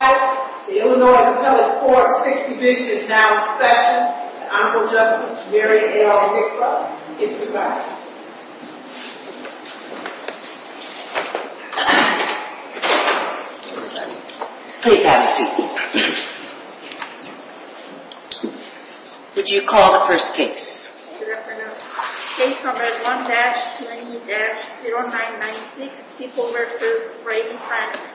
The Illinois Appellate Court's 6th Division is now in session. The Honorable Justice Mary L. Hickler is presiding. Please have a seat. Would you call the first case? Good afternoon. Case number 1-20-0996, People v. Brady Franklin.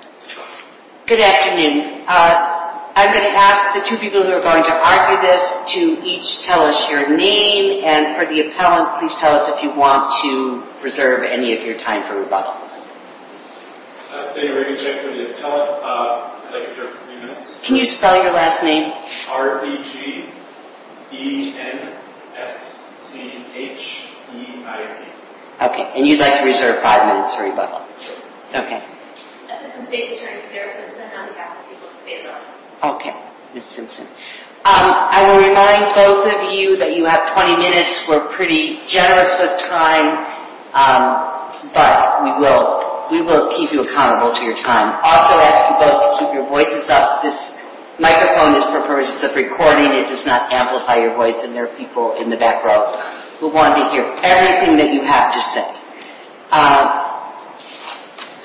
Good afternoon. I'm going to ask the two people who are going to argue this to each tell us your name, and for the appellant, please tell us if you want to reserve any of your time for rebuttal. Mary L. Hickler, the appellant, I'd like to reserve three minutes. Can you spell your last name? R-E-G-E-N-S-C-H-E-I-T. Okay, and you'd like to reserve five minutes for rebuttal? Sure. Okay. Assistant State Attorney Sarah Simpson on behalf of the people of the state of Illinois. Okay, Ms. Simpson. I will remind both of you that you have 20 minutes. We're pretty generous with time, but we will keep you accountable to your time. I'll also ask you both to keep your voices up. This microphone is for purposes of recording. It does not amplify your voice, and there are people in the back row who want to hear everything that you have to say.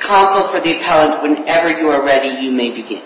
Counsel for the appellant, whenever you are ready, you may begin.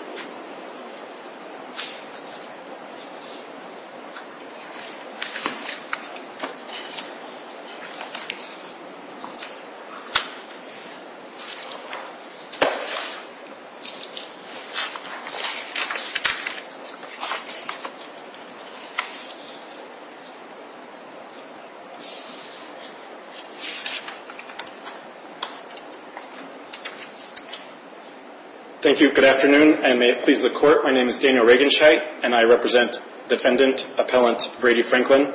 Thank you. Good afternoon, and may it please the Court, my name is Daniel Regenscheidt, and I represent Defendant Appellant Brady Franklin.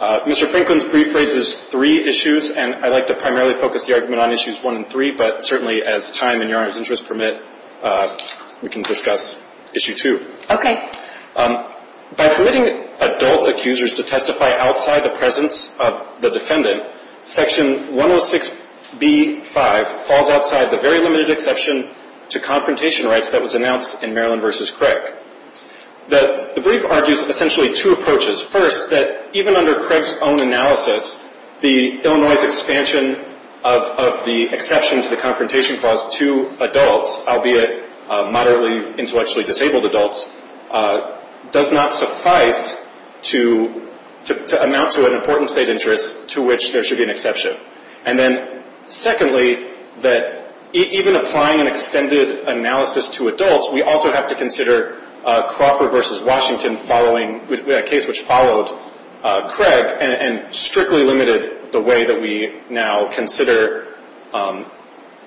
Mr. Franklin's brief raises three issues, and I'd like to primarily focus the argument on issues one and three, but certainly as time and Your Honor's interest permit, we can discuss issue two. Okay. By permitting adult accusers to testify outside the presence of the defendant, Section 106B-5 falls outside the very limited exception to confrontation rights that was announced in Maryland v. Craig. The brief argues essentially two approaches. First, that even under Craig's own analysis, the Illinois' expansion of the exception to the confrontation clause to adults, albeit moderately intellectually disabled adults, does not suffice to amount to an important state interest to which there should be an exception. And then secondly, that even applying an extended analysis to adults, we also have to consider Crawford v. Washington following a case which followed Craig and strictly limited the way that we now consider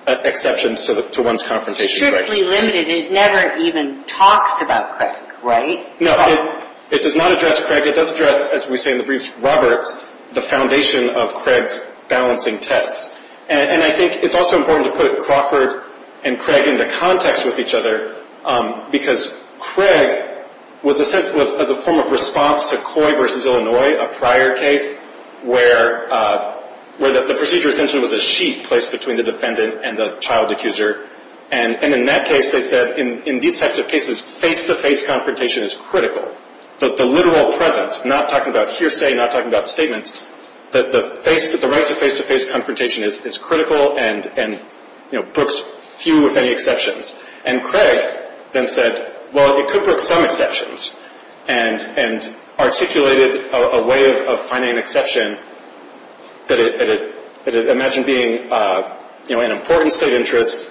exceptions to one's confrontation rights. Strictly limited? It never even talks about Craig, right? No. It does not address Craig. It does address, as we say in the briefs, Roberts, the foundation of Craig's balancing test. And I think it's also important to put Crawford and Craig into context with each other, because Craig was a form of response to Coy v. Illinois, a prior case, where the procedure extension was a sheet placed between the defendant and the child accuser. And in that case, they said, in these types of cases, face-to-face confrontation is critical. The literal presence, not talking about hearsay, not talking about statements, that the rights of face-to-face confrontation is critical and books few, if any, exceptions. And Craig then said, well, it could book some exceptions, and articulated a way of finding an exception that, imagine being an important state interest,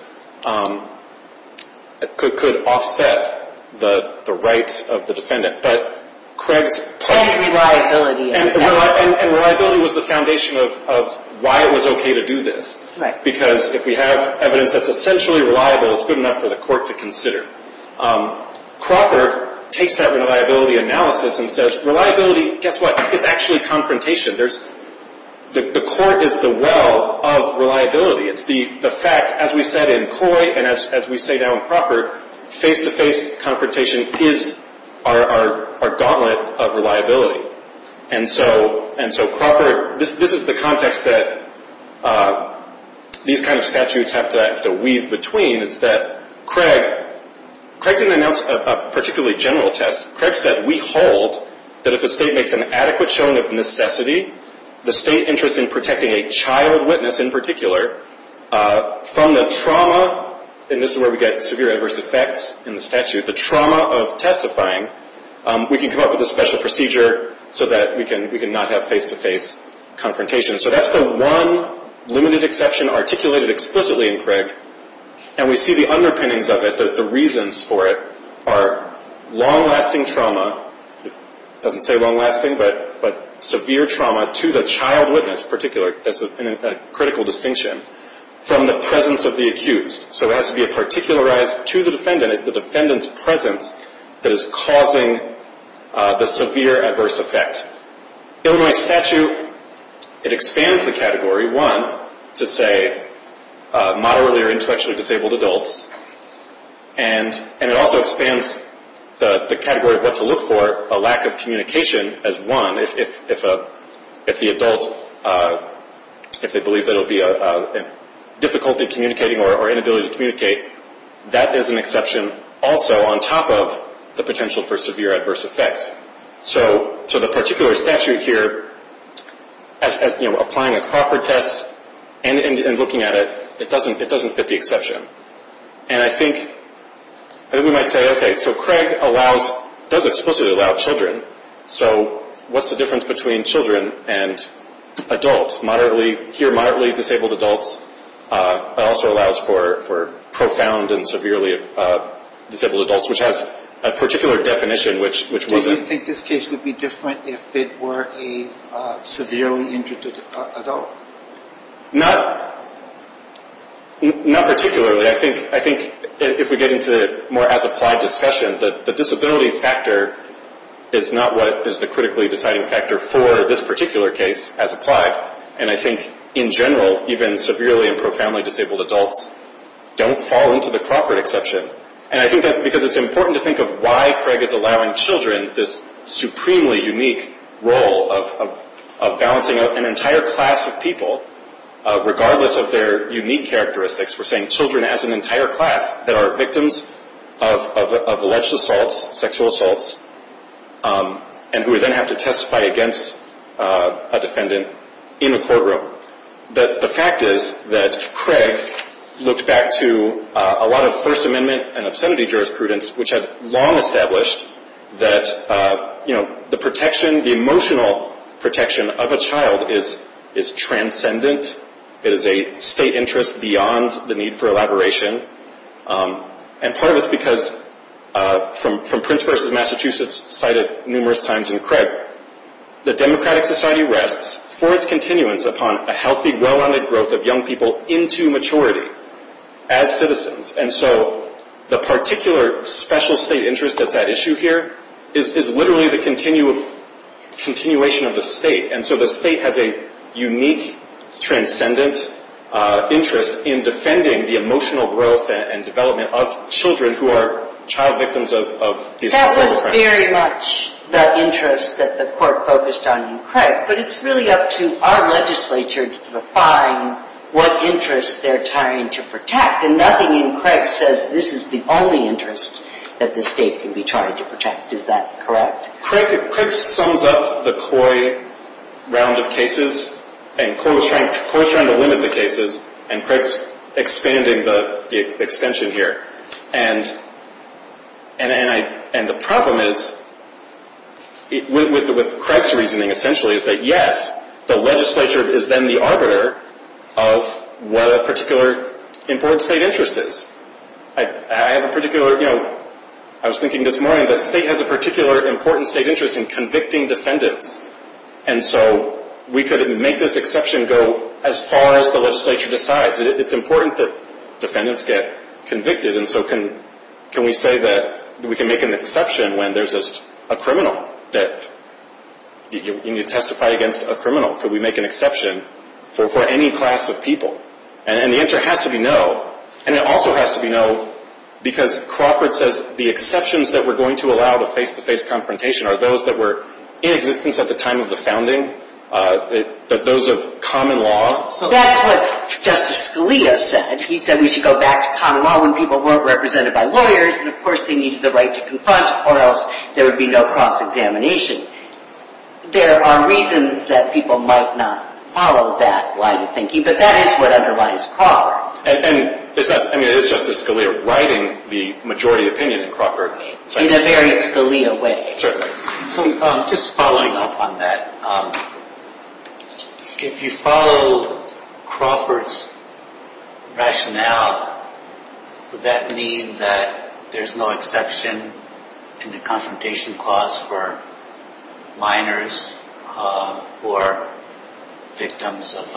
could offset the rights of the defendant. But Craig's point. And reliability. And reliability was the foundation of why it was okay to do this. Right. Because if we have evidence that's essentially reliable, it's good enough for the court to consider. Crawford takes that reliability analysis and says, reliability, guess what? It's actually confrontation. The court is the well of reliability. It's the fact, as we said in Coy and as we say now in Crawford, face-to-face confrontation is our gauntlet of reliability. And so Crawford, this is the context that these kind of statutes have to weave between. It's that Craig didn't announce a particularly general test. Craig said, we hold that if a state makes an adequate showing of necessity, the state interest in protecting a child witness in particular, from the trauma, and this is where we get severe adverse effects in the statute, the trauma of testifying, we can come up with a special procedure so that we can not have face-to-face confrontation. And we see the underpinnings of it, the reasons for it, are long-lasting trauma. It doesn't say long-lasting, but severe trauma to the child witness in particular, that's a critical distinction, from the presence of the accused. So it has to be a particularized to the defendant. It's the defendant's presence that is causing the severe adverse effect. Illinois statute, it expands the category, one, to say moderately or intellectually disabled adults, and it also expands the category of what to look for, a lack of communication as one, if the adult, if they believe there will be difficulty communicating or inability to communicate, that is an exception also on top of the potential for severe adverse effects. So the particular statute here, applying a Crawford test and looking at it, it doesn't fit the exception. And I think we might say, okay, so Craig does explicitly allow children, so what's the difference between children and adults? Here, moderately disabled adults also allows for profound and severely disabled adults, which has a particular definition, which wasn't. Do you think this case would be different if it were a severely injured adult? Not particularly. I think if we get into more as applied discussion, the disability factor is not what is the critically deciding factor for this particular case as applied. And I think in general, even severely and profoundly disabled adults don't fall into the Crawford exception. And I think because it's important to think of why Craig is allowing children this supremely unique role of balancing out an entire class of people, regardless of their unique characteristics. We're saying children as an entire class that are victims of alleged assaults, sexual assaults, and who then have to testify against a defendant in a courtroom. But the fact is that Craig looked back to a lot of First Amendment and obscenity jurisprudence, which had long established that, you know, the protection, the emotional protection of a child is transcendent. It is a state interest beyond the need for elaboration. And part of it's because, from Prince v. Massachusetts cited numerous times in Craig, the democratic society rests for its continuance upon a healthy, well-rounded growth of young people into maturity as citizens. And so the particular special state interest that's at issue here is literally the continuation of the state. And so the state has a unique, transcendent interest in defending the emotional growth and development of children who are child victims of these kinds of crimes. It's not very much the interest that the court focused on in Craig, but it's really up to our legislature to define what interest they're trying to protect. And nothing in Craig says this is the only interest that the state can be trying to protect. Is that correct? Craig sums up the COI round of cases, and COI is trying to limit the cases, and Craig's expanding the extension here. And the problem is, with Craig's reasoning essentially, is that yes, the legislature is then the arbiter of what a particular important state interest is. I have a particular, you know, I was thinking this morning that the state has a particular important state interest in convicting defendants. And so we could make this exception go as far as the legislature decides. It's important that defendants get convicted. And so can we say that we can make an exception when there's a criminal that you need to testify against a criminal? Could we make an exception for any class of people? And the answer has to be no. And it also has to be no because Crawford says the exceptions that we're going to allow to face-to-face confrontation are those that were in existence at the time of the founding, those of common law. So that's what Justice Scalia said. He said we should go back to common law when people weren't represented by lawyers, and of course they needed the right to confront or else there would be no cross-examination. There are reasons that people might not follow that line of thinking, but that is what underlies Crawford. And it's not, I mean, it is Justice Scalia writing the majority opinion in Crawford. In a very Scalia way. Certainly. So just following up on that, if you follow Crawford's rationale, would that mean that there's no exception in the confrontation clause for minors who are victims of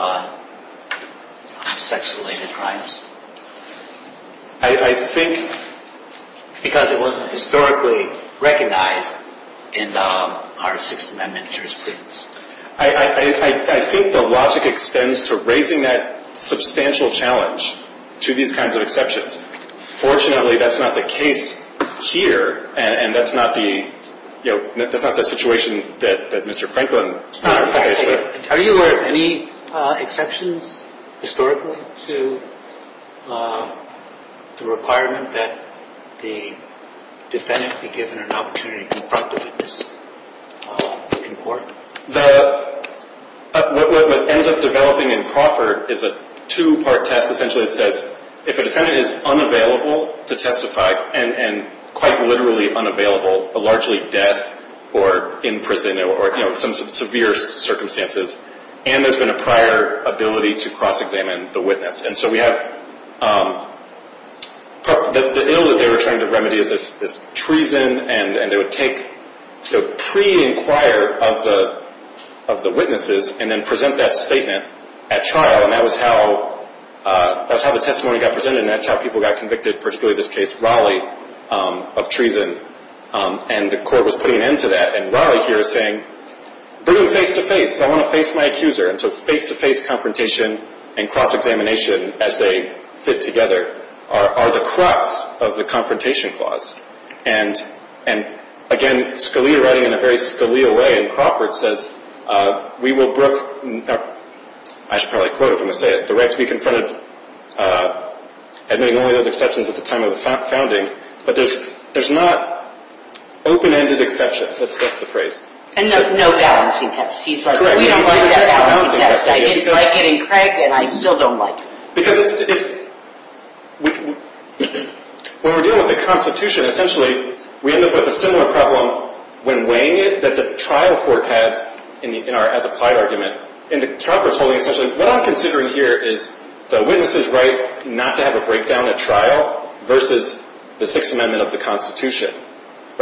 sex-related crimes? I think... Because it wasn't historically recognized in our Sixth Amendment jurisprudence. I think the logic extends to raising that substantial challenge to these kinds of exceptions. Fortunately, that's not the case here, and that's not the, you know, that's not the situation that Mr. Franklin... Are you aware of any exceptions historically to the requirement that the defendant be given an opportunity to confront the witness in court? What ends up developing in Crawford is a two-part test. Essentially it says if a defendant is unavailable to testify, and quite literally unavailable, a largely death or in prison or, you know, some severe circumstances, and there's been a prior ability to cross-examine the witness. And so we have the ill that they were trying to remedy is this treason, and they would take, you know, pre-inquire of the witnesses and then present that statement at trial. And that was how the testimony got presented, and that's how people got convicted, particularly in this case, Raleigh, of treason. And the court was putting an end to that, and Raleigh here is saying, bring them face-to-face. I want to face my accuser. And so face-to-face confrontation and cross-examination as they fit together are the crux of the Confrontation Clause. And, again, Scalia writing in a very Scalia way in Crawford says, we will brook, I should probably quote if I'm going to say it, the right to be confronted, admitting only those exceptions at the time of the founding. But there's not open-ended exceptions. That's the phrase. And no balancing test. He's right. We don't like that balancing test. I didn't like getting cragged, and I still don't like it. Because it's, when we're dealing with the Constitution, essentially we end up with a similar problem when weighing it that the trial court had in our as-applied argument. And the trial court's holding essentially, what I'm considering here is the witness's right not to have a breakdown at trial versus the Sixth Amendment of the Constitution.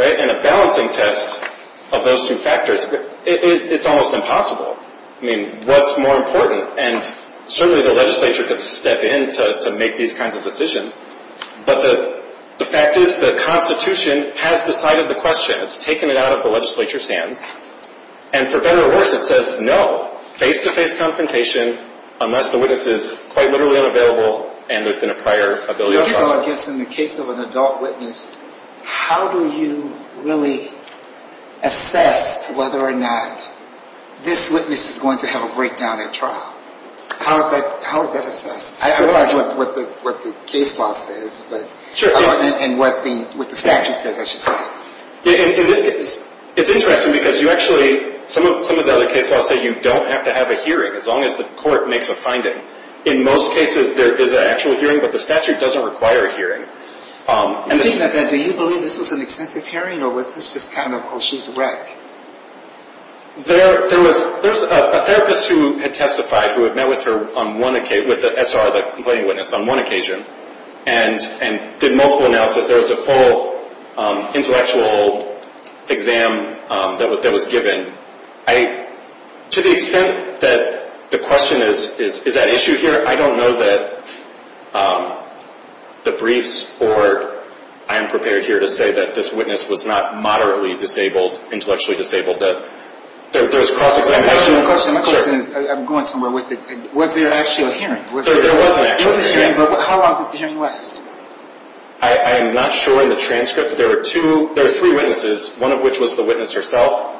And a balancing test of those two factors, it's almost impossible. I mean, what's more important? And certainly the legislature could step in to make these kinds of decisions. But the fact is, the Constitution has decided the question. It's taken it out of the legislature's hands. And for better or worse, it says, no, face-to-face confrontation unless the witness is quite literally unavailable and there's been a prior ability of some sort. So I guess in the case of an adult witness, how do you really assess whether or not this witness is going to have a breakdown at trial? How is that assessed? I realize what the case law says, and what the statute says, I should say. In this case, it's interesting because you actually, some of the other case laws say you don't have to have a hearing as long as the court makes a finding. In most cases, there is an actual hearing, but the statute doesn't require a hearing. Do you believe this was an extensive hearing, or was this just kind of, oh, she's a wreck? There was a therapist who had testified, who had met with the SR, the complaining witness, on one occasion and did multiple analysis. There was a full intellectual exam that was given. To the extent that the question is, is that an issue here, I don't know that the briefs or I am prepared here to say that this witness was not moderately disabled, intellectually disabled. My question is, I'm going somewhere with it. Was there actually a hearing? There was an actual hearing. How long did the hearing last? I am not sure in the transcript. There were three witnesses, one of which was the witness herself,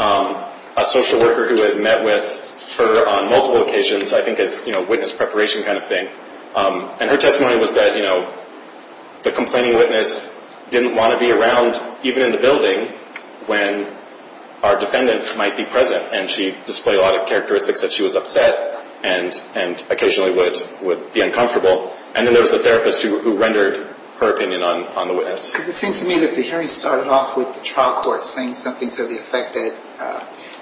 a social worker who had met with her on multiple occasions, I think as witness preparation kind of thing. And her testimony was that the complaining witness didn't want to be around, even in the building, when our defendant might be present. And she displayed a lot of characteristics that she was upset and occasionally would be uncomfortable. And then there was the therapist who rendered her opinion on the witness. Because it seems to me that the hearing started off with the trial court saying something to the effect that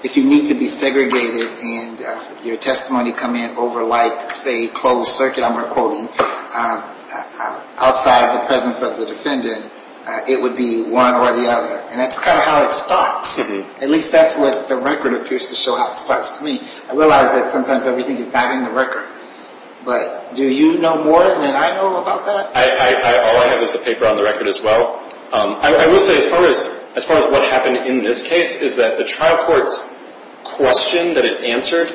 if you need to be segregated and your testimony come in over like, say, closed circuit, I'm recording, outside the presence of the defendant, it would be one or the other. And that's kind of how it starts. At least that's what the record appears to show how it starts to me. I realize that sometimes everything is not in the record. But do you know more than I know about that? All I have is the paper on the record as well. I would say as far as what happened in this case is that the trial court's question that it answered,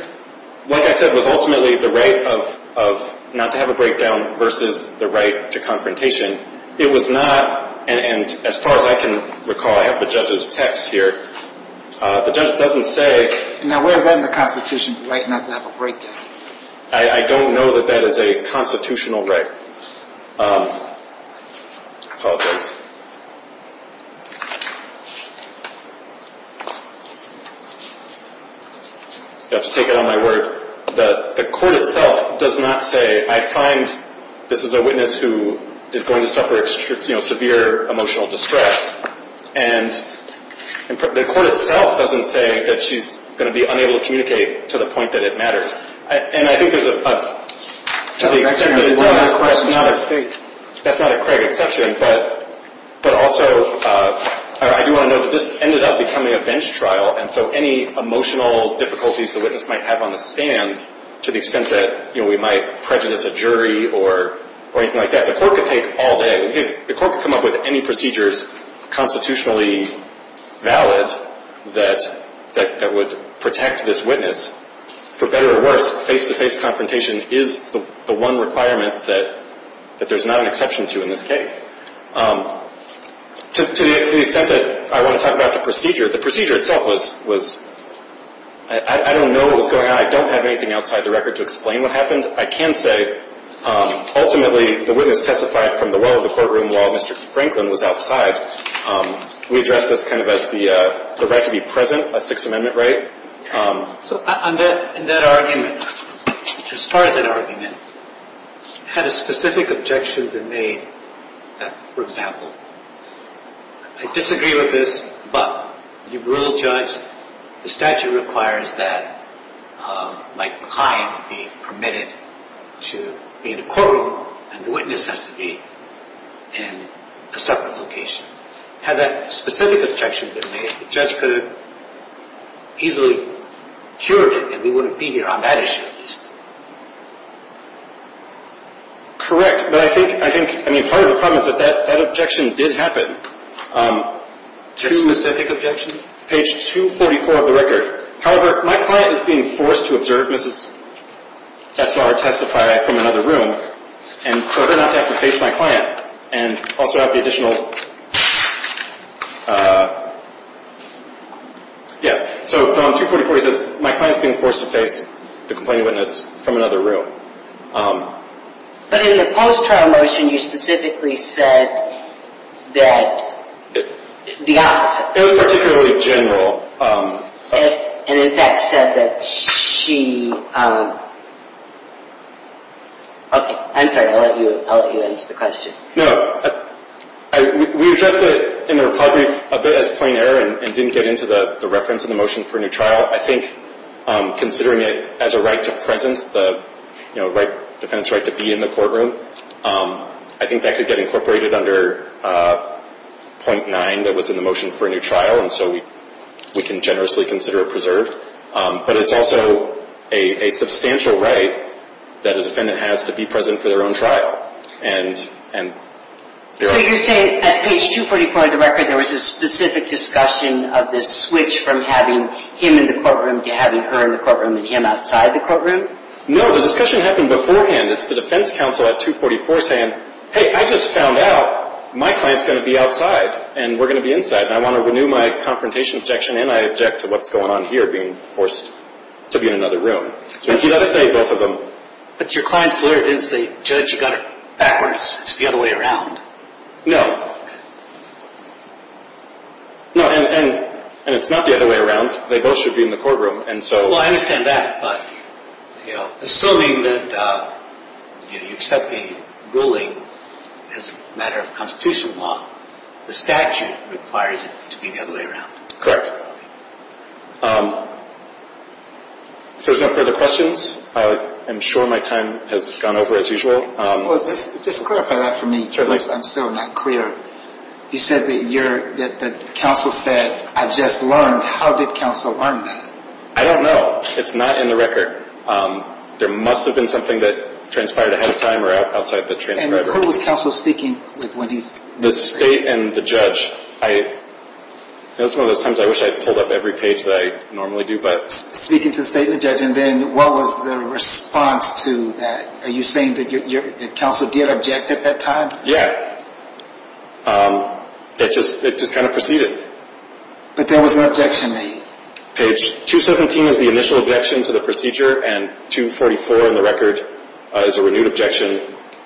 like I said, was ultimately the right of not to have a breakdown versus the right to confrontation. It was not, and as far as I can recall, I have the judge's text here, the judge doesn't say. Now where is that in the Constitution, the right not to have a breakdown? I don't know that that is a constitutional right. I apologize. I have to take it on my word that the court itself does not say, I find this is a witness who is going to suffer severe emotional distress, and the court itself doesn't say that she's going to be unable to communicate to the point that it matters. To the extent that it does, that's not a Craig exception, but also I do want to note that this ended up becoming a bench trial, and so any emotional difficulties the witness might have on the stand, to the extent that we might prejudice a jury or anything like that, the court could take all day. The court could come up with any procedures, constitutionally valid, that would protect this witness. For better or worse, face-to-face confrontation is the one requirement that there's not an exception to in this case. To the extent that I want to talk about the procedure, the procedure itself was, I don't know what was going on. I don't have anything outside the record to explain what happened. I can say ultimately the witness testified from the well of the courtroom while Mr. Franklin was outside. We address this kind of as the right to be present, a Sixth Amendment right. So in that argument, as far as that argument, had a specific objection been made that, for example, I disagree with this, but you've ruled, judged, the statute requires that my client be permitted to be in the courtroom, and the witness has to be in a separate location. Had that specific objection been made, the judge could have easily cured it and we wouldn't be here on that issue at least. Correct, but I think, I mean, part of the problem is that that objection did happen. Your specific objection? Page 244 of the record. However, my client is being forced to observe Mrs. Essler testify from another room, and for her not to have to face my client and also have the additional, yeah. So on 244 he says, my client's being forced to face the complaining witness from another room. But in the post-trial motion you specifically said that the opposite. It was particularly general. And in fact said that she, okay, I'm sorry, I'll let you answer the question. No, we addressed it in the report brief a bit as plain error and didn't get into the reference in the motion for a new trial. I think considering it as a right to presence, the defense right to be in the courtroom, I think that could get incorporated under .9 that was in the motion for a new trial, and so we can generously consider it preserved. But it's also a substantial right that a defendant has to be present for their own trial. So you're saying at page 244 of the record there was a specific discussion of this switch from having him in the courtroom to having her in the courtroom and him outside the courtroom? No, the discussion happened beforehand. It's the defense counsel at 244 saying, hey, I just found out my client's going to be outside and we're going to be inside, and I want to renew my confrontation objection, and I object to what's going on here being forced to be in another room. So he does say both of them. But your client's lawyer didn't say, Judge, you got it backwards. It's the other way around. No. No, and it's not the other way around. They both should be in the courtroom. Well, I understand that, but assuming that you accept the ruling as a matter of Constitution law, the statute requires it to be the other way around. Correct. If there's no further questions, I'm sure my time has gone over as usual. Well, just clarify that for me because I'm still not clear. You said that counsel said, I just learned. How did counsel learn that? I don't know. It's not in the record. There must have been something that transpired ahead of time or outside the transcriber. And who was counsel speaking with when he said that? The state and the judge. It was one of those times I wish I had pulled up every page that I normally do. Speaking to the state and the judge, and then what was the response to that? Are you saying that counsel did object at that time? Yeah. It just kind of proceeded. But there was an objection made. Page 217 is the initial objection to the procedure, and 244 in the record is a renewed objection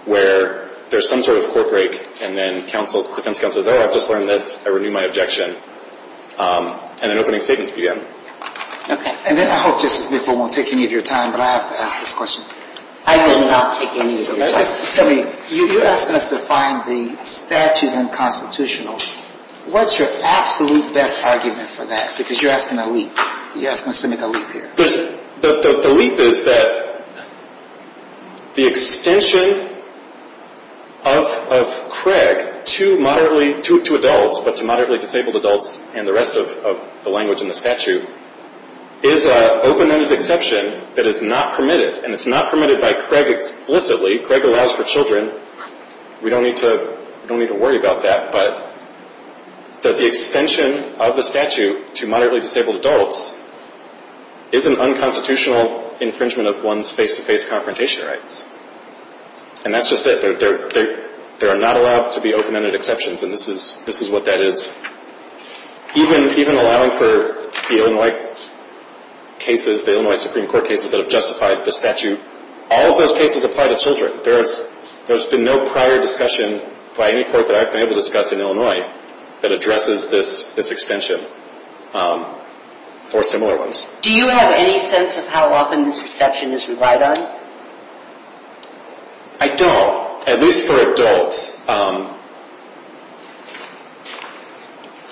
where there's some sort of court break, and then defense counsel says, oh, I've just learned this. I renew my objection. And then opening statements began. Okay. And then I hope Justice McFall won't take any of your time, but I have to ask this question. I did not take any of your time. Tell me, you're asking us to find the statute unconstitutional. What's your absolute best argument for that? Because you're asking a leap. You're asking us to make a leap here. The leap is that the extension of Craig to adults, but to moderately disabled adults and the rest of the language in the statute, is an open-ended exception that is not permitted. And it's not permitted by Craig explicitly. Craig allows for children. We don't need to worry about that. But the extension of the statute to moderately disabled adults is an unconstitutional infringement of one's face-to-face confrontation rights. And that's just it. There are not allowed to be open-ended exceptions, and this is what that is. Even allowing for the Illinois cases, the Illinois Supreme Court cases that have justified the statute, all of those cases apply to children. There's been no prior discussion by any court that I've been able to discuss in Illinois that addresses this extension or similar ones. Do you have any sense of how often this exception is relied on? I don't. Well, at least for adults.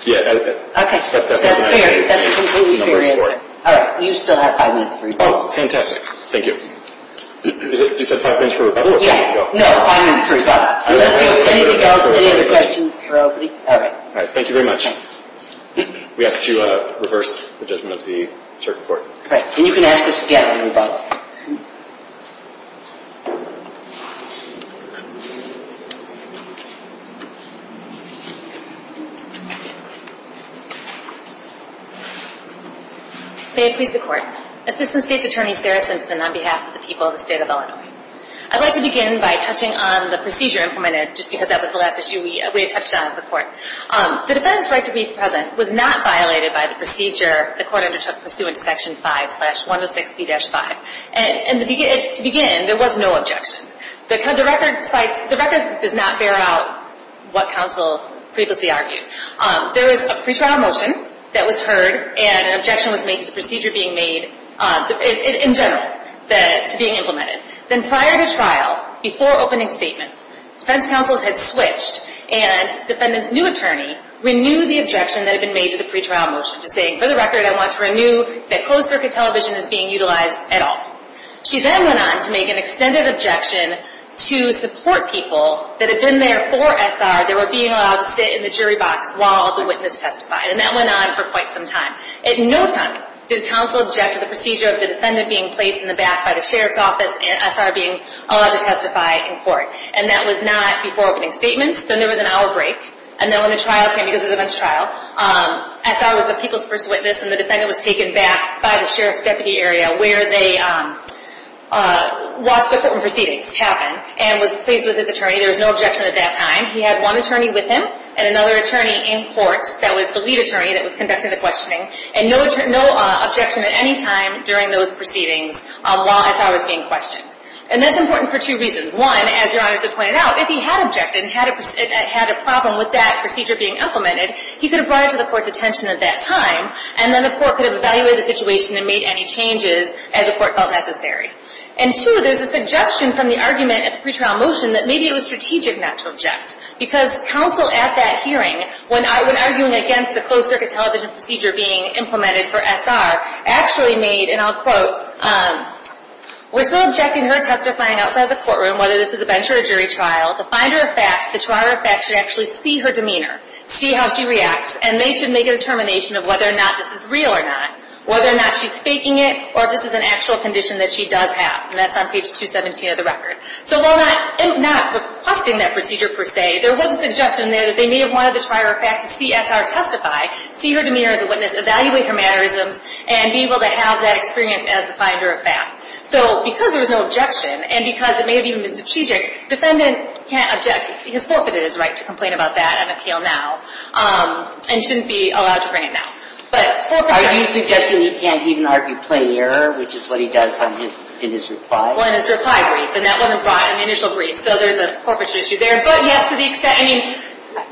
Yeah. Okay. That's fair. That's completely fair. All right. You still have five minutes for rebuttal. Oh, fantastic. Thank you. You said five minutes for rebuttal? Yeah. No, five minutes for rebuttal. Unless you have anything else, any other questions for everybody? All right. All right. Thank you very much. We ask that you reverse the judgment of the circuit court. Right. And you can ask us again when we vote. May it please the Court. Assistant State's Attorney, Sarah Simpson, on behalf of the people of the State of Illinois. I'd like to begin by touching on the procedure implemented, just because that was the last issue we had touched on as the Court. The defendant's right to be present was not violated by the procedure the Court undertook pursuant to Section 5, Slash 106B-5. And to begin, there was no objection. The record does not bear out what counsel previously argued. There was a pretrial motion that was heard, and an objection was made to the procedure being made, in general, to being implemented. Then prior to trial, before opening statements, defense counsels had switched, and the defendant's new attorney renewed the objection that had been made to the pretrial motion, saying, for the record, I want to renew that closed-circuit television is being utilized at all. She then went on to make an extended objection to support people that had been there for S.R., that were being allowed to sit in the jury box while the witness testified. And that went on for quite some time. At no time did counsel object to the procedure of the defendant being placed in the back by the Sheriff's Office and S.R. being allowed to testify in court. And that was not before opening statements. Then there was an hour break. And then when the trial came, because it was a bench trial, S.R. was the people's first witness, and the defendant was taken back by the Sheriff's Deputy Area, where they watched the court proceedings happen and was placed with his attorney. There was no objection at that time. He had one attorney with him and another attorney in court that was the lead attorney that was conducting the questioning. And no objection at any time during those proceedings while S.R. was being questioned. And that's important for two reasons. One, as Your Honors had pointed out, if he had objected and had a problem with that procedure being implemented, he could have brought it to the court's attention at that time, and then the court could have evaluated the situation and made any changes as the court felt necessary. And two, there's a suggestion from the argument at the pretrial motion that maybe it was strategic not to object, because counsel at that hearing, when arguing against the closed-circuit television procedure being implemented for S.R., actually made, and I'll quote, We're still objecting her testifying outside the courtroom, whether this is a bench or a jury trial. The finder of facts, the trier of facts, should actually see her demeanor, see how she reacts, and they should make a determination of whether or not this is real or not, whether or not she's faking it, or if this is an actual condition that she does have. And that's on page 217 of the record. So while not requesting that procedure per se, there was a suggestion there that they may have wanted the trier of facts to see S.R. testify, see her demeanor as a witness, evaluate her mannerisms, and be able to have that experience as the finder of facts. So because there was no objection, and because it may have even been strategic, defendant can't object because forfeited his right to complain about that and appeal now, and shouldn't be allowed to bring it now. Are you suggesting he can't even argue plain error, which is what he does in his reply? Well, in his reply brief. And that wasn't brought in the initial brief, so there's a forfeiture issue there. But, yes, to the extent, I mean,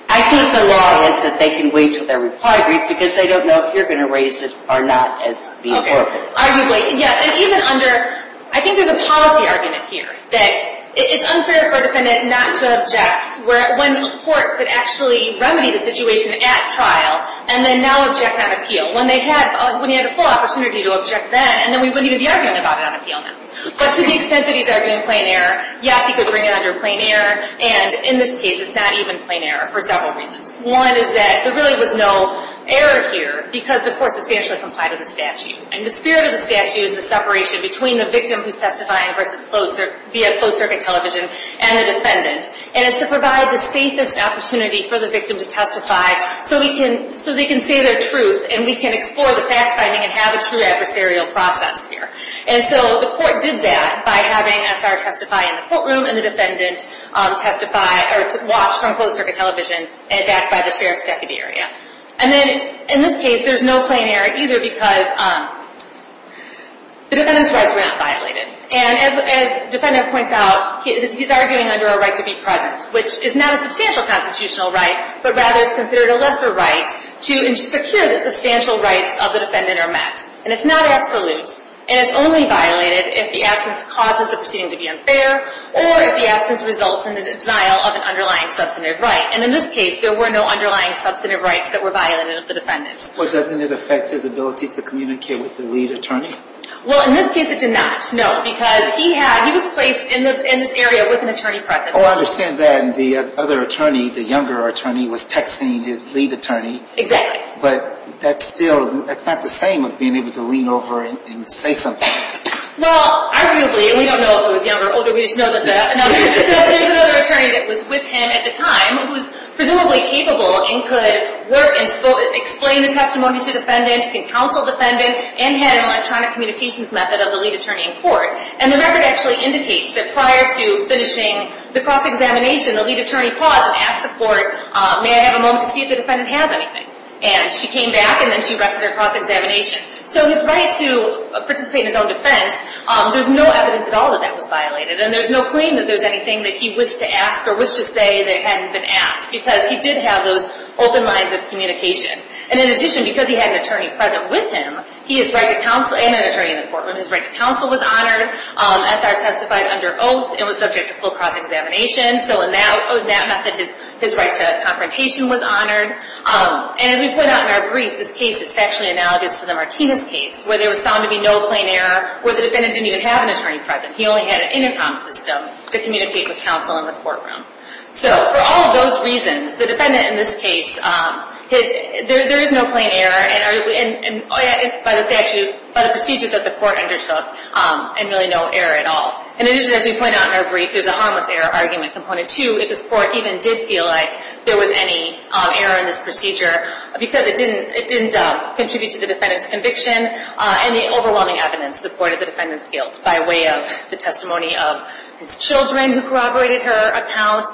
I think the law is that they can wait until their reply brief, because they don't know if you're going to raise it or not as being forfeited. Okay. Arguably, yes. And even under, I think there's a policy argument here that it's unfair for a defendant not to object when the court could actually remedy the situation at trial and then now object on appeal. When they had, when he had a full opportunity to object then, and then we wouldn't even be arguing about it on appeal now. But to the extent that he's arguing plain error, yes, he could bring it under plain error. And in this case, it's not even plain error for several reasons. One is that there really was no error here because the court substantially complied with the statute. And the spirit of the statute is the separation between the victim who's testifying versus closed, via closed-circuit television, and the defendant. And it's to provide the safest opportunity for the victim to testify so we can, so they can say their truth and we can explore the fact-finding and have a true adversarial process here. And so the court did that by having SR testify in the courtroom and the defendant testify or watch from closed-circuit television and backed by the sheriff's deputy area. And then in this case, there's no plain error either because the defendant's rights were not violated. And as the defendant points out, he's arguing under a right to be present, which is not a substantial constitutional right, but rather is considered a lesser right to secure the substantial rights of the defendant or met. And it's not absolute. And it's only violated if the absence causes the proceeding to be unfair or if the absence results in the denial of an underlying substantive right. And in this case, there were no underlying substantive rights that were violated of the defendants. Well, doesn't it affect his ability to communicate with the lead attorney? Well, in this case, it did not. No, because he had, he was placed in this area with an attorney present. Oh, I understand that. And the other attorney, the younger attorney, was texting his lead attorney. Exactly. But that's still, that's not the same as being able to lean over and say something. Well, arguably, and we don't know if it was younger or older, we just know that there's another attorney that was with him at the time who was presumably capable and could work and explain the testimony to the defendant and counsel the defendant and had an electronic communications method of the lead attorney in court. And the record actually indicates that prior to finishing the cross-examination, the lead attorney paused and asked the court, may I have a moment to see if the defendant has anything? And she came back, and then she rested her cross-examination. So his right to participate in his own defense, there's no evidence at all that that was violated. And there's no claim that there's anything that he wished to ask or wished to say that hadn't been asked because he did have those open lines of communication. And in addition, because he had an attorney present with him, he is right to counsel, and an attorney in the courtroom, his right to counsel was honored. SR testified under oath and was subject to full cross-examination. So in that method, his right to confrontation was honored. And as we put out in our brief, this case is factually analogous to the Martinez case where there was found to be no plain error, where the defendant didn't even have an attorney present. He only had an intercom system to communicate with counsel in the courtroom. So for all of those reasons, the defendant in this case, there is no plain error by the statute, by the procedure that the court undertook, and really no error at all. In addition, as we point out in our brief, there's a harmless error argument component, too, if this court even did feel like there was any error in this procedure because it didn't contribute to the defendant's conviction. And the overwhelming evidence supported the defendant's guilt by way of the testimony of his children who corroborated her account,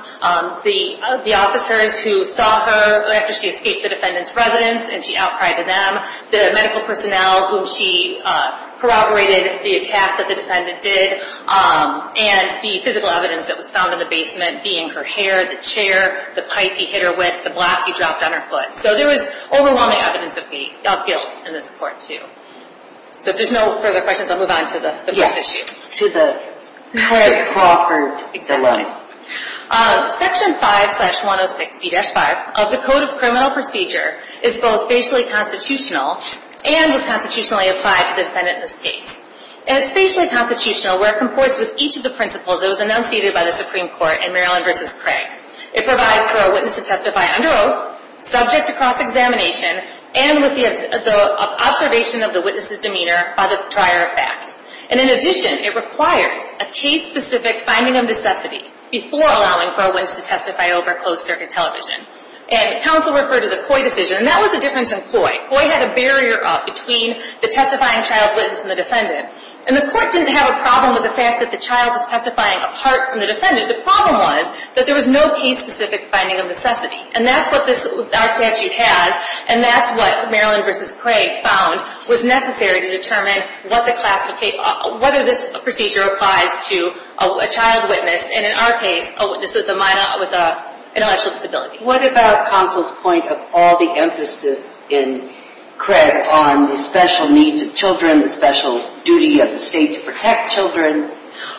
the officers who saw her after she escaped the defendant's residence and she outcried to them, the medical personnel whom she corroborated the attack that the defendant did, and the physical evidence that was found in the basement being her hair, the chair, the pipe he hit her with, the block he dropped on her foot. So there was overwhelming evidence of guilt in this court, too. So if there's no further questions, I'll move on to the first issue. Yes, to the Crawford case. Section 5-106B-5 of the Code of Criminal Procedure is both facially constitutional and was constitutionally applied to the defendant in this case. And it's facially constitutional where it comports with each of the principles that was enunciated by the Supreme Court in Maryland v. Craig. It provides for a witness to testify under oath, subject to cross-examination, and with the observation of the witness's demeanor by the prior facts. And in addition, it requires a case-specific finding of necessity before allowing for a witness to testify over closed-circuit television. And counsel referred to the Coy decision, and that was the difference in Coy. Coy had a barrier up between the testifying child witness and the defendant. And the court didn't have a problem with the fact that the child was testifying apart from the defendant. The problem was that there was no case-specific finding of necessity. And that's what our statute has, and that's what Maryland v. Craig found was necessary to determine whether this procedure applies to a child witness, and in our case, a witness with an intellectual disability. What about counsel's point of all the emphasis in Craig on the special needs of children, the special duty of the state to protect children?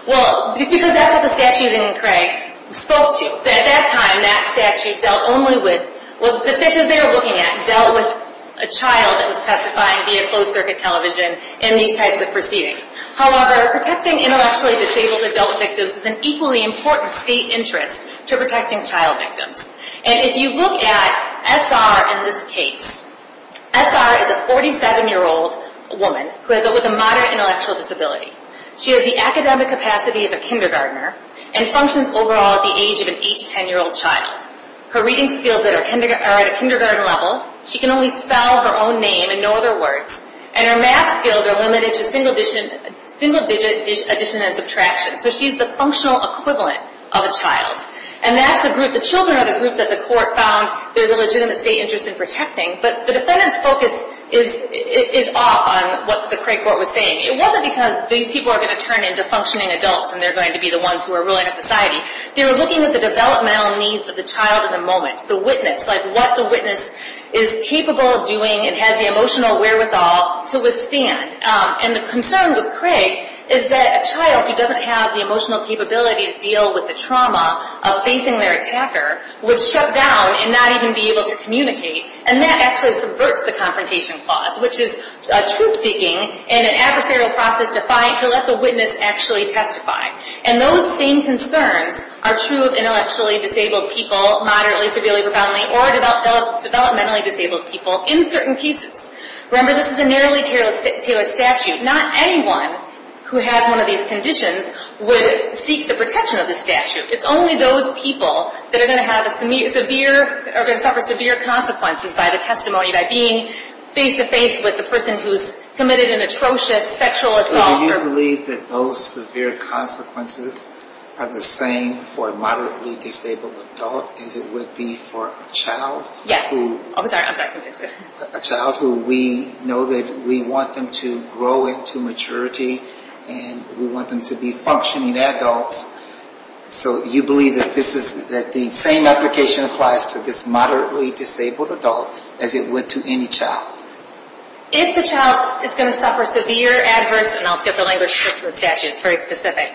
Well, because that's what the statute in Craig spoke to. At that time, that statute dealt only with, well, the statute they were looking at dealt with a child that was testifying via closed-circuit television in these types of proceedings. However, protecting intellectually disabled adult victims is an equally important state interest to protecting child victims. And if you look at SR in this case, SR is a 47-year-old woman with a moderate intellectual disability. She has the academic capacity of a kindergartner and functions overall at the age of an 8- to 10-year-old child. Her reading skills are at a kindergarten level. She can only spell her own name and no other words. And her math skills are limited to single-digit addition and subtraction. So she's the functional equivalent of a child. And that's the group, the children are the group that the court found there's a legitimate state interest in protecting. But the defendant's focus is off on what the Craig court was saying. It wasn't because these people are going to turn into functioning adults and they're going to be the ones who are ruling a society. They were looking at the developmental needs of the child in the moment, the witness, like what the witness is capable of doing and has the emotional wherewithal to withstand. And the concern with Craig is that a child who doesn't have the emotional capability to deal with the trauma of facing their attacker would shut down and not even be able to communicate. And that actually subverts the confrontation clause, which is truth-seeking and an adversarial process to fight, to let the witness actually testify. And those same concerns are true of intellectually disabled people, moderately, severely, profoundly, or developmentally disabled people in certain cases. Remember, this is a narrowly tailored statute. Not anyone who has one of these conditions would seek the protection of the statute. It's only those people that are going to suffer severe consequences by the testimony, by being face-to-face with the person who's committed an atrocious sexual assault. So do you believe that those severe consequences are the same for a moderately disabled adult as it would be for a child who we know that we want them to grow into maturity and we want them to be functioning adults? So you believe that the same application applies to this moderately disabled adult as it would to any child? If the child is going to suffer severe adverse – and I'll skip the language for the statute, it's very specific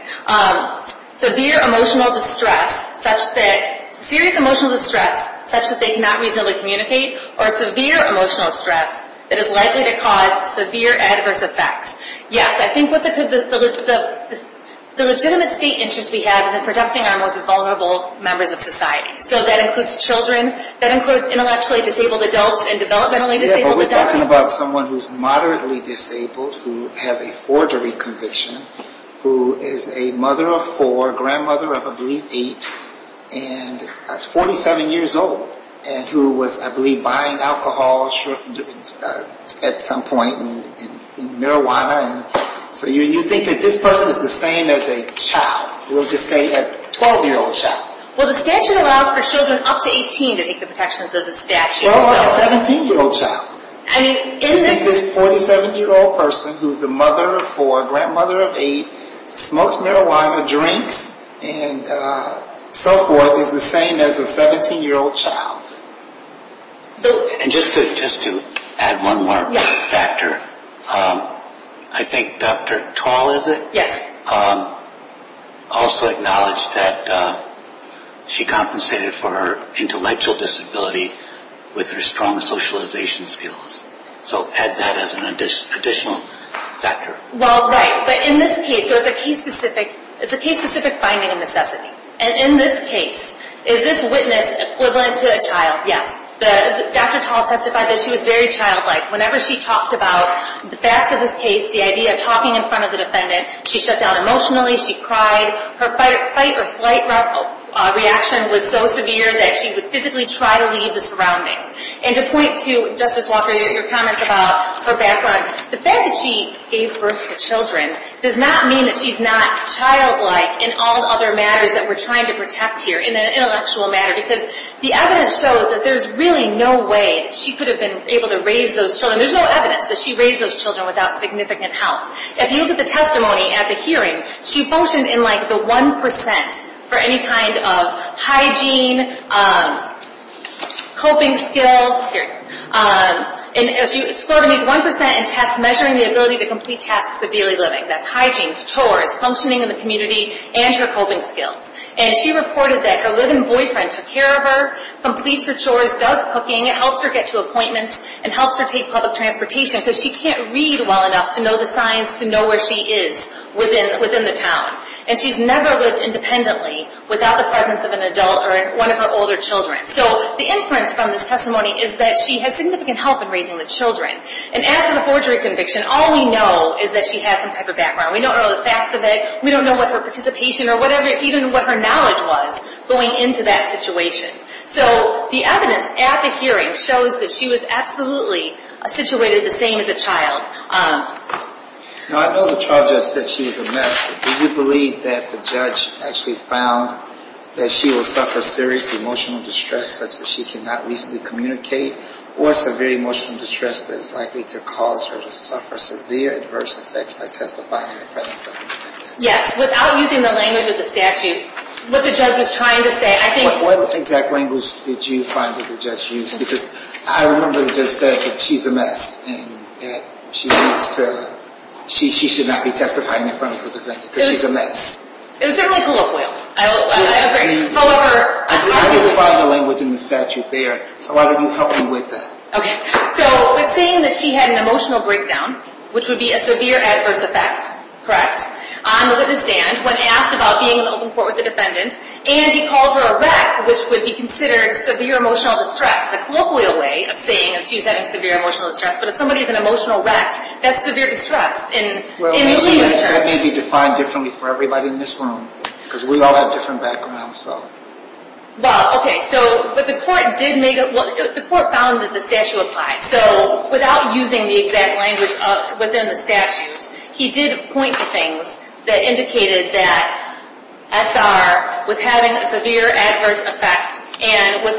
– severe emotional distress such that serious emotional distress such that they cannot reasonably communicate or severe emotional stress that is likely to cause severe adverse effects, yes, I think what the legitimate state interest we have is in protecting our most vulnerable members of society. So that includes children, that includes intellectually disabled adults and developmentally disabled adults. Yeah, but we're talking about someone who's moderately disabled, who has a forgery conviction, who is a mother of four, grandmother of, I believe, eight, and that's 47 years old, and who was, I believe, buying alcohol at some point and marijuana. So you think that this person is the same as a child. We'll just say a 12-year-old child. Well, the statute allows for children up to 18 to take the protections of the statute. Well, what about a 17-year-old child? I mean, in this... Is this 47-year-old person who's a mother of four, grandmother of eight, smokes marijuana, drinks, and so forth, is the same as a 17-year-old child? And just to add one more factor, I think Dr. Twal is it? Yes. Also acknowledged that she compensated for her intellectual disability with her strong socialization skills. So add that as an additional factor. Well, right. But in this case, it's a case-specific finding of necessity. And in this case, is this witness equivalent to a child? Yes. Dr. Twal testified that she was very childlike. Whenever she talked about the facts of this case, the idea of talking in front of the defendant, she shut down emotionally, she cried. Her fight-or-flight reaction was so severe that she would physically try to leave the surroundings. And to point to, Justice Walker, your comments about her background, the fact that she gave birth to children does not mean that she's not childlike in all other matters that we're trying to protect here, in an intellectual matter, because the evidence shows that there's really no way that she could have been able to raise those children. There's no evidence that she raised those children without significant help. If you look at the testimony at the hearing, she functioned in, like, the 1% for any kind of hygiene, coping skills, and she scored a neat 1% in tests measuring the ability to complete tasks of daily living. That's hygiene, chores, functioning in the community, and her coping skills. And she reported that her living boyfriend took care of her, completes her chores, does cooking, helps her get to appointments, and helps her take public transportation, because she can't read well enough to know the signs to know where she is within the town. And she's never lived independently without the presence of an adult or one of her older children. So the inference from this testimony is that she had significant help in raising the children. And as to the forgery conviction, all we know is that she had some type of background. We don't know the facts of it. We don't know what her participation or whatever, even what her knowledge was going into that situation. So the evidence at the hearing shows that she was absolutely situated the same as a child. Now, I know the trial judge said she was a mess, but do you believe that the judge actually found that she will suffer serious emotional distress such that she cannot reasonably communicate or severe emotional distress that is likely to cause her to suffer severe adverse effects by testifying in the presence of an adult? Yes, without using the language of the statute. What the judge was trying to say, I think... What exact language did you find that the judge used? Because I remember the judge said that she's a mess and that she needs to... She should not be testifying in front of a defendant because she's a mess. It was simply colloquial, I agree. However... I didn't find the language in the statute there, so why don't you help me with that? Okay, so it's saying that she had an emotional breakdown, which would be a severe adverse effect, correct, on the witness stand when asked about being in open court with the defendant, and he called her a wreck, which would be considered severe emotional distress. It's a colloquial way of saying that she's having severe emotional distress, but if somebody's an emotional wreck, that's severe distress in legal terms. Well, that may be defined differently for everybody in this room because we all have different backgrounds, so... Well, okay, so... But the court did make a... Well, the court found that the statute applied, so without using the exact language within the statute, he did point to things that indicated that S.R. was having a severe adverse effect and would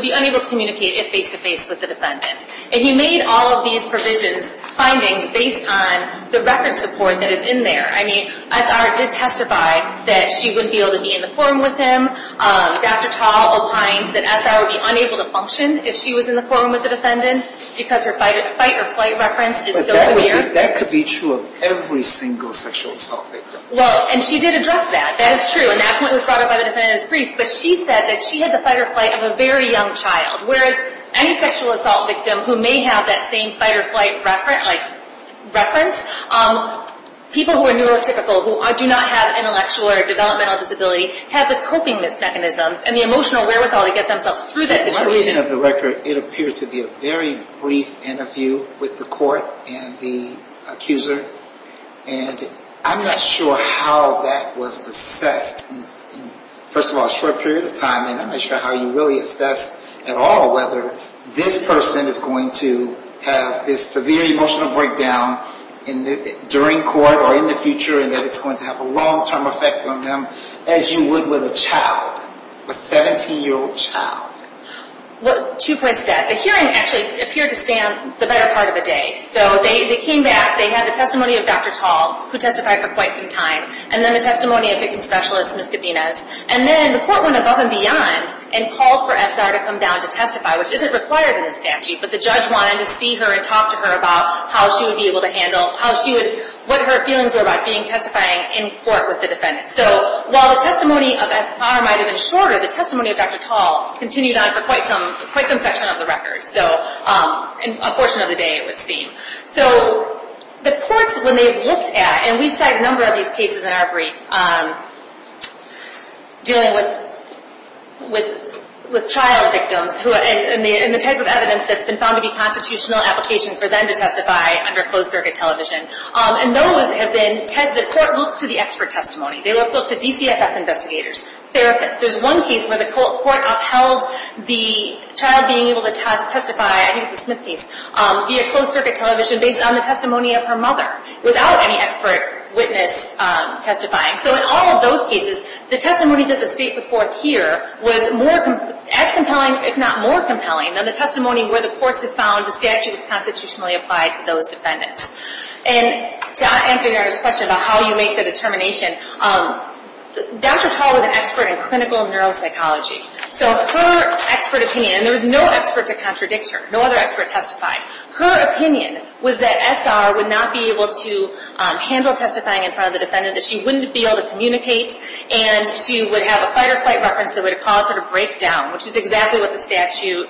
be unable to communicate if face-to-face with the defendant. And he made all of these findings based on the record support that is in there. I mean, S.R. did testify that she wouldn't be able to be in the courtroom with him. Dr. Tall opines that S.R. would be unable to function if she was in the courtroom with the defendant because her fight-or-flight reference is still severe. That could be true of every single sexual assault victim. Well, and she did address that, that is true, and that point was brought up by the defendant in his brief, but she said that she had the fight-or-flight of a very young child, whereas any sexual assault victim who may have that same fight-or-flight reference, people who are neurotypical, who do not have intellectual or developmental disability, have the coping mechanisms and the emotional wherewithal to get themselves through that situation. So my reading of the record, it appeared to be a very brief interview with the court and the accuser, and I'm not sure how that was assessed. First of all, a short period of time, and I'm not sure how you really assess at all whether this person is going to have this severe emotional breakdown during court or in the future and that it's going to have a long-term effect on them as you would with a child, a 17-year-old child. Well, two points to that. The hearing actually appeared to span the better part of a day, so they came back, they had the testimony of Dr. Tall, who testified for quite some time, and then the testimony of victim specialist, Ms. Cadenas, and then the court went above and beyond and called for SR to come down to testify, which isn't required in the statute, but the judge wanted to see her and talk to her about how she would be able to handle, what her feelings were about being testifying in court with the defendant. So while the testimony of SR might have been shorter, the testimony of Dr. Tall continued on for quite some section of the record, so a portion of the day, it would seem. So the courts, when they looked at, and we cite a number of these cases in our brief, dealing with child victims and the type of evidence that's been found to be constitutional application for them to testify under closed-circuit television, and those have been, the court looks to the expert testimony. They looked at DCFS investigators, therapists. There's one case where the court upheld the child being able to testify, I think it's a Smith case, via closed-circuit television, based on the testimony of her mother, without any expert witness testifying. So in all of those cases, the testimony that the state put forth here was as compelling, if not more compelling, than the testimony where the courts have found the statute is constitutionally applied to those defendants. And to answer Nara's question about how you make the determination, Dr. Tall was an expert in clinical neuropsychology, so her expert opinion, and there was no expert to contradict her, no other expert testified, her opinion was that S.R. would not be able to handle testifying in front of the defendant, that she wouldn't be able to communicate, and she would have a fight-or-flight reference that would cause her to break down, which is exactly what the statute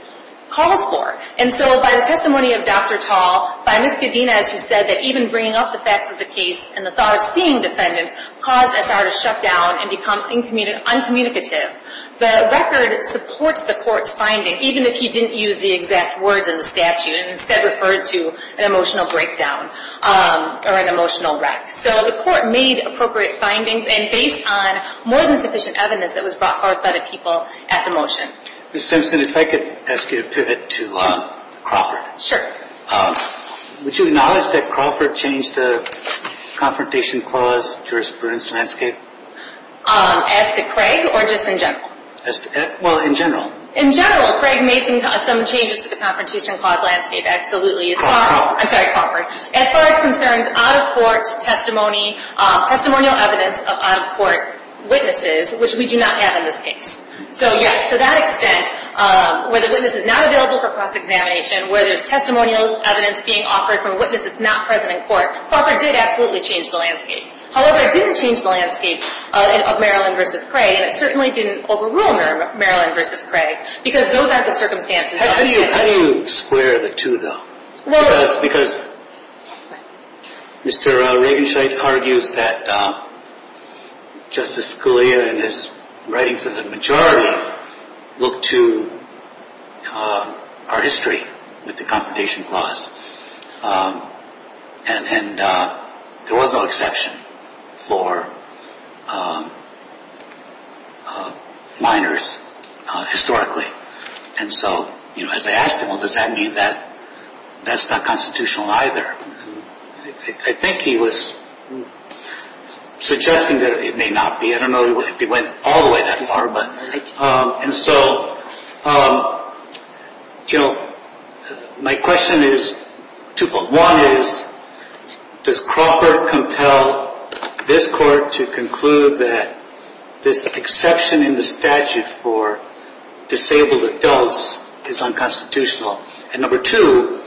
calls for. And so by the testimony of Dr. Tall, by Ms. Cadenas, who said that even bringing up the facts of the case and the thought of seeing the defendant caused S.R. to shut down and become uncommunicative, the record supports the court's finding, even if he didn't use the exact words in the statute and instead referred to an emotional breakdown or an emotional wreck. So the court made appropriate findings, and based on more than sufficient evidence that was brought forth by the people at the motion. Ms. Simpson, if I could ask you to pivot to Crawford. Sure. Would you acknowledge that Crawford changed the Confrontation Clause jurisprudence landscape? As to Craig, or just in general? Well, in general. In general, Craig made some changes to the Confrontation Clause landscape, absolutely. Crawford. I'm sorry, Crawford. As far as concerns out-of-court testimony, testimonial evidence of out-of-court witnesses, which we do not have in this case. So yes, to that extent, where the witness is not available for cross-examination, where there's testimonial evidence being offered from a witness that's not present in court, Crawford did absolutely change the landscape. However, it didn't change the landscape of Maryland v. Craig, and it certainly didn't overrule Maryland v. Craig, because those aren't the circumstances. How do you square the two, though? Because Mr. Ravenscheid argues that Justice Scalia in his writing for the majority looked to our history with the Confrontation Clause, and there was no exception for minors historically. And so, as I asked him, well, does that mean that that's not constitutional either? I think he was suggesting that it may not be. I don't know if he went all the way that far. And so, my question is twofold. One is, does Crawford compel this Court to conclude that this exception in the statute for disabled adults is unconstitutional? And number two,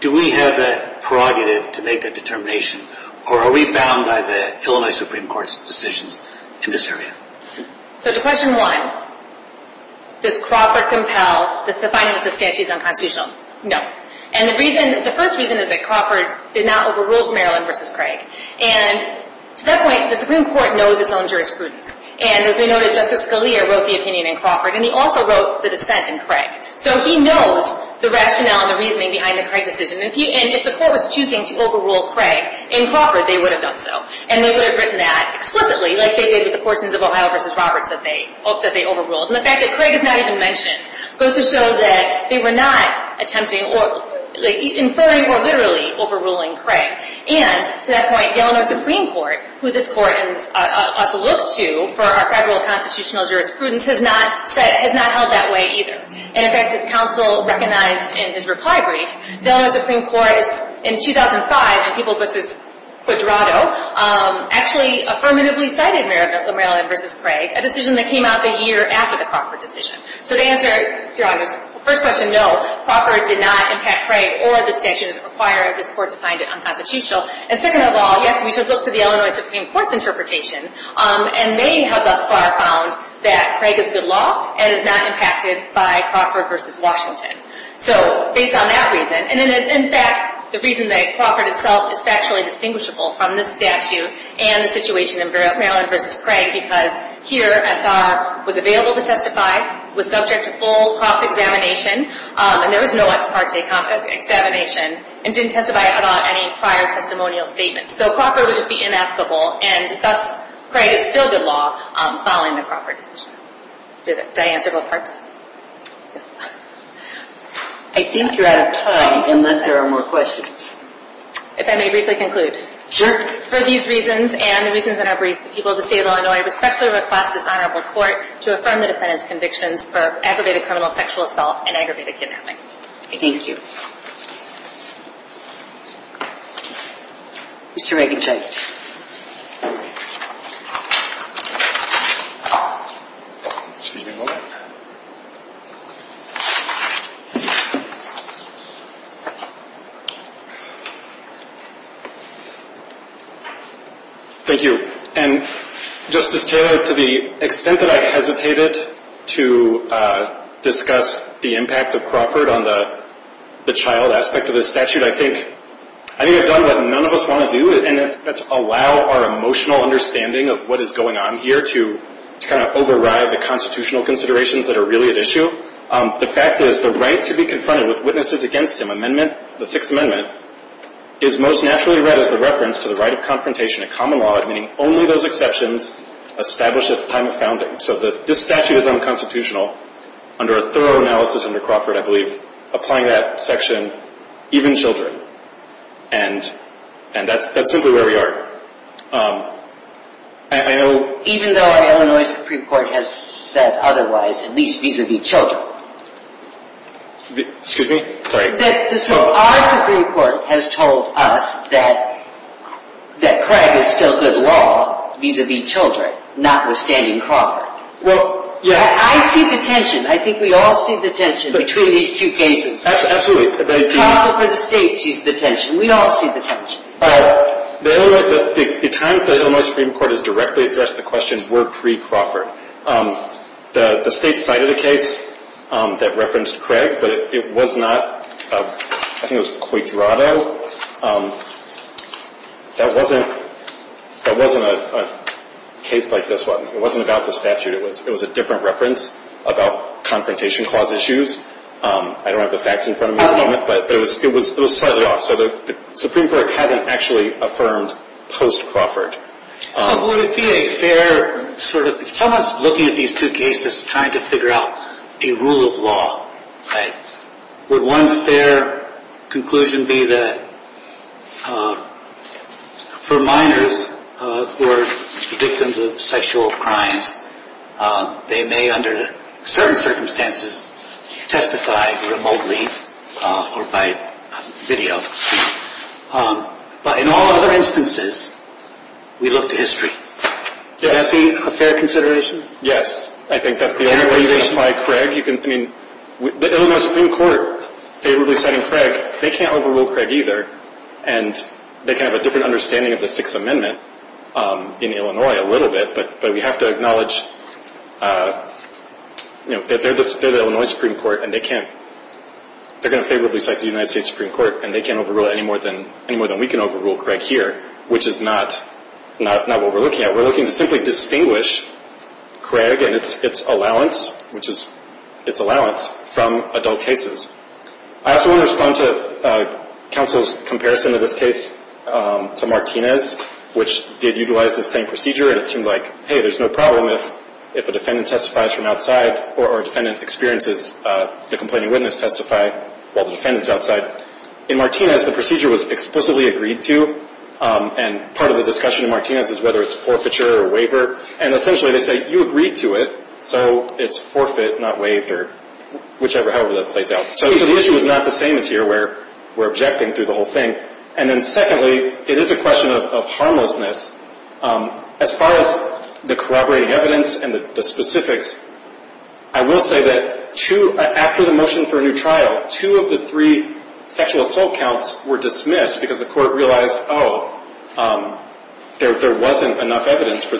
do we have a prerogative to make a determination, or are we bound by the Illinois Supreme Court's decisions in this area? So to question one, does Crawford compel the finding that the statute is unconstitutional? No. And the first reason is that Crawford did not overrule Maryland v. Craig. And to that point, the Supreme Court knows its own jurisprudence. And as we noted, Justice Scalia wrote the opinion in Crawford, and he also wrote the dissent in Craig. So he knows the rationale and the reasoning behind the Craig decision. And if the Court was choosing to overrule Craig in Crawford, they would have done so. And they would have written that explicitly, like they did with the portions of Ohio v. Roberts that they overruled. And the fact that Craig is not even mentioned goes to show that they were not attempting or inferring or literally overruling Craig. And to that point, the Illinois Supreme Court, who this Court also looked to for our federal constitutional jurisprudence, has not held that way either. And in fact, as counsel recognized in his reply brief, the Illinois Supreme Court in 2005 in People v. Quadrado actually affirmatively cited Maryland v. Craig, a decision that came out the year after the Crawford decision. So to answer Your Honor's first question, no, Crawford did not impact Craig or the statutes requiring this Court to find it unconstitutional. And second of all, yes, we should look to the Illinois Supreme Court's interpretation, and they have thus far found that Craig is good law and is not impacted by Crawford v. Washington. So based on that reason, and in fact, the reason that Crawford itself is factually distinguishable from this statute and the situation in Maryland v. Craig, because here SR was available to testify, was subject to full cross-examination, and there was no ex parte examination, and didn't testify about any prior testimonial statements. So Crawford would just be inapplicable, and thus Craig is still good law following the Crawford decision. Did I answer both parts? Yes. I think you're out of time unless there are more questions. If I may briefly conclude. Sure. For these reasons and the reasons that are brief, the people of the State of Illinois respectfully request this Honorable Court to affirm the defendant's convictions for aggravated criminal sexual assault and aggravated kidnapping. Thank you. Thank you. Mr. Reichenstein. Excuse me one moment. Thank you. And Justice Taylor, to the extent that I hesitated to discuss the impact of Crawford on the child aspect of this statute, I think I've done what none of us want to do, and that's allow our emotional understanding of what is going on here to kind of override the constitutional considerations that are really at issue. The fact is the right to be confronted with witnesses against him, the Sixth Amendment, is most naturally read as the reference to the right of confrontation in common law, meaning only those exceptions established at the time of founding. So this statute is unconstitutional under a thorough analysis under Crawford, I believe, applying that section, even children. And that's simply where we are. Even though our Illinois Supreme Court has said otherwise, at least vis-a-vis children. Excuse me? Sorry. Our Supreme Court has told us that Craig is still good law vis-a-vis children, notwithstanding Crawford. Well, yeah. I see the tension. I think we all see the tension between these two cases. Absolutely. Crawford for the state sees the tension. We all see the tension. The Illinois Supreme Court has directly addressed the question were pre-Crawford. The state cited a case that referenced Craig, but it was not, I think it was Cuadrado. That wasn't a case like this one. It wasn't about the statute. It was a different reference about confrontation clause issues. I don't have the facts in front of me at the moment, but it was slightly off. So the Supreme Court hasn't actually affirmed post-Crawford. So would it be a fair sort of, someone's looking at these two cases trying to figure out a rule of law, right? Would one fair conclusion be that for minors who are victims of sexual crimes, they may under certain circumstances testify remotely or by video. But in all other instances, we look to history. Is that a fair consideration? Yes. I think that's the only way you identify Craig. I mean, the Illinois Supreme Court favorably citing Craig, they can't overrule Craig either, and they can have a different understanding of the Sixth Amendment in Illinois a little bit, but we have to acknowledge that they're the Illinois Supreme Court and they're going to favorably cite the United States Supreme Court, and they can't overrule it any more than we can overrule Craig here, which is not what we're looking at. We're looking to simply distinguish Craig and its allowance, which is its allowance, from adult cases. I also want to respond to counsel's comparison of this case to Martinez, which did utilize the same procedure, and it seemed like, hey, there's no problem if a defendant testifies from outside or a defendant experiences the complaining witness testify while the defendant's outside. In Martinez, the procedure was explicitly agreed to, and part of the discussion in Martinez is whether it's forfeiture or waiver, and essentially they say, you agreed to it, so it's forfeit, not waiver, whichever, however that plays out. So the issue is not the same as here where we're objecting to the whole thing. And then secondly, it is a question of harmlessness. As far as the corroborating evidence and the specifics, I will say that after the motion for a new trial, two of the three sexual assault counts were dismissed because the court realized, oh, there wasn't enough evidence for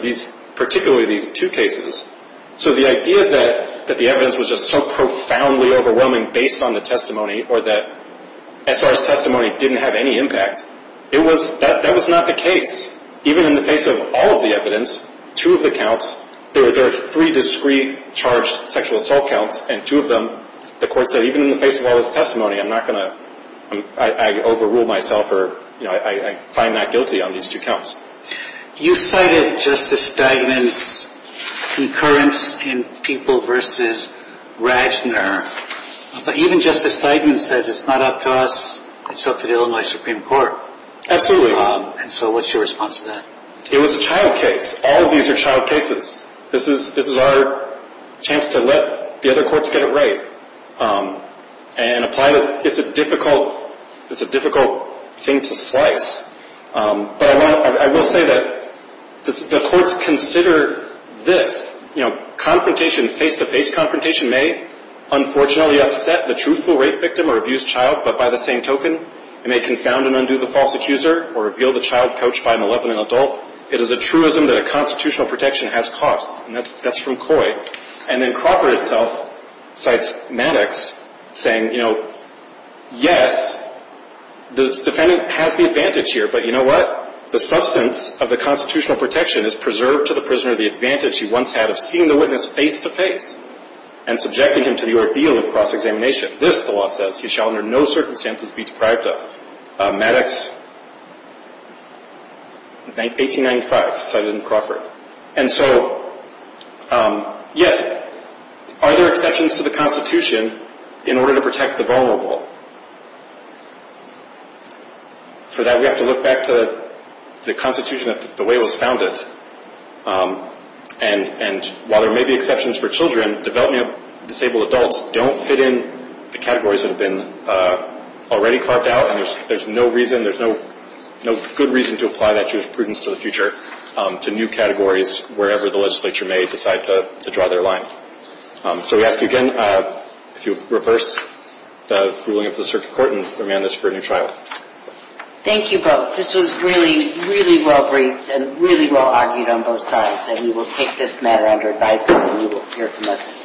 particularly these two cases. So the idea that the evidence was just so profoundly overwhelming based on the testimony or that SR's testimony didn't have any impact, that was not the case. Even in the face of all of the evidence, two of the counts, there were three discreet charged sexual assault counts, and two of them, the court said, even in the face of all this testimony, I'm not going to, I overrule myself or I find not guilty on these two counts. You cited Justice Steigman's concurrence in People v. Radner, but even Justice Steigman says it's not up to us, it's up to the Illinois Supreme Court. Absolutely. And so what's your response to that? It was a child case. All of these are child cases. This is our chance to let the other courts get it right and apply this. It's a difficult thing to slice, but I will say that the courts consider this, you know, confrontation, face-to-face confrontation may unfortunately upset the truthful rape victim or abused child, but by the same token, it may confound and undo the false accuser or reveal the child coached by a malevolent adult. It is a truism that a constitutional protection has costs, and that's from Coy. And then Crawford itself cites Maddox saying, you know, yes, the defendant has the advantage here, but you know what, the substance of the constitutional protection is preserved to the prisoner the advantage he once had of seeing the witness face-to-face and subjecting him to the ordeal of cross-examination. This, the law says, he shall under no circumstances be deprived of. Maddox, 1895, cited in Crawford. And so, yes, are there exceptions to the Constitution in order to protect the vulnerable? For that, we have to look back to the Constitution, the way it was founded, and while there may be exceptions for children, developing disabled adults don't fit in the categories that have been already carved out, and there's no reason, there's no good reason to apply that jurisprudence to the future, to new categories wherever the legislature may decide to draw their line. So we ask you again, if you'll reverse the ruling of the circuit court and remand this for a new trial. Thank you both. This was really, really well-breathed and really well-argued on both sides, and we will take this matter under advisement and you will hear from us.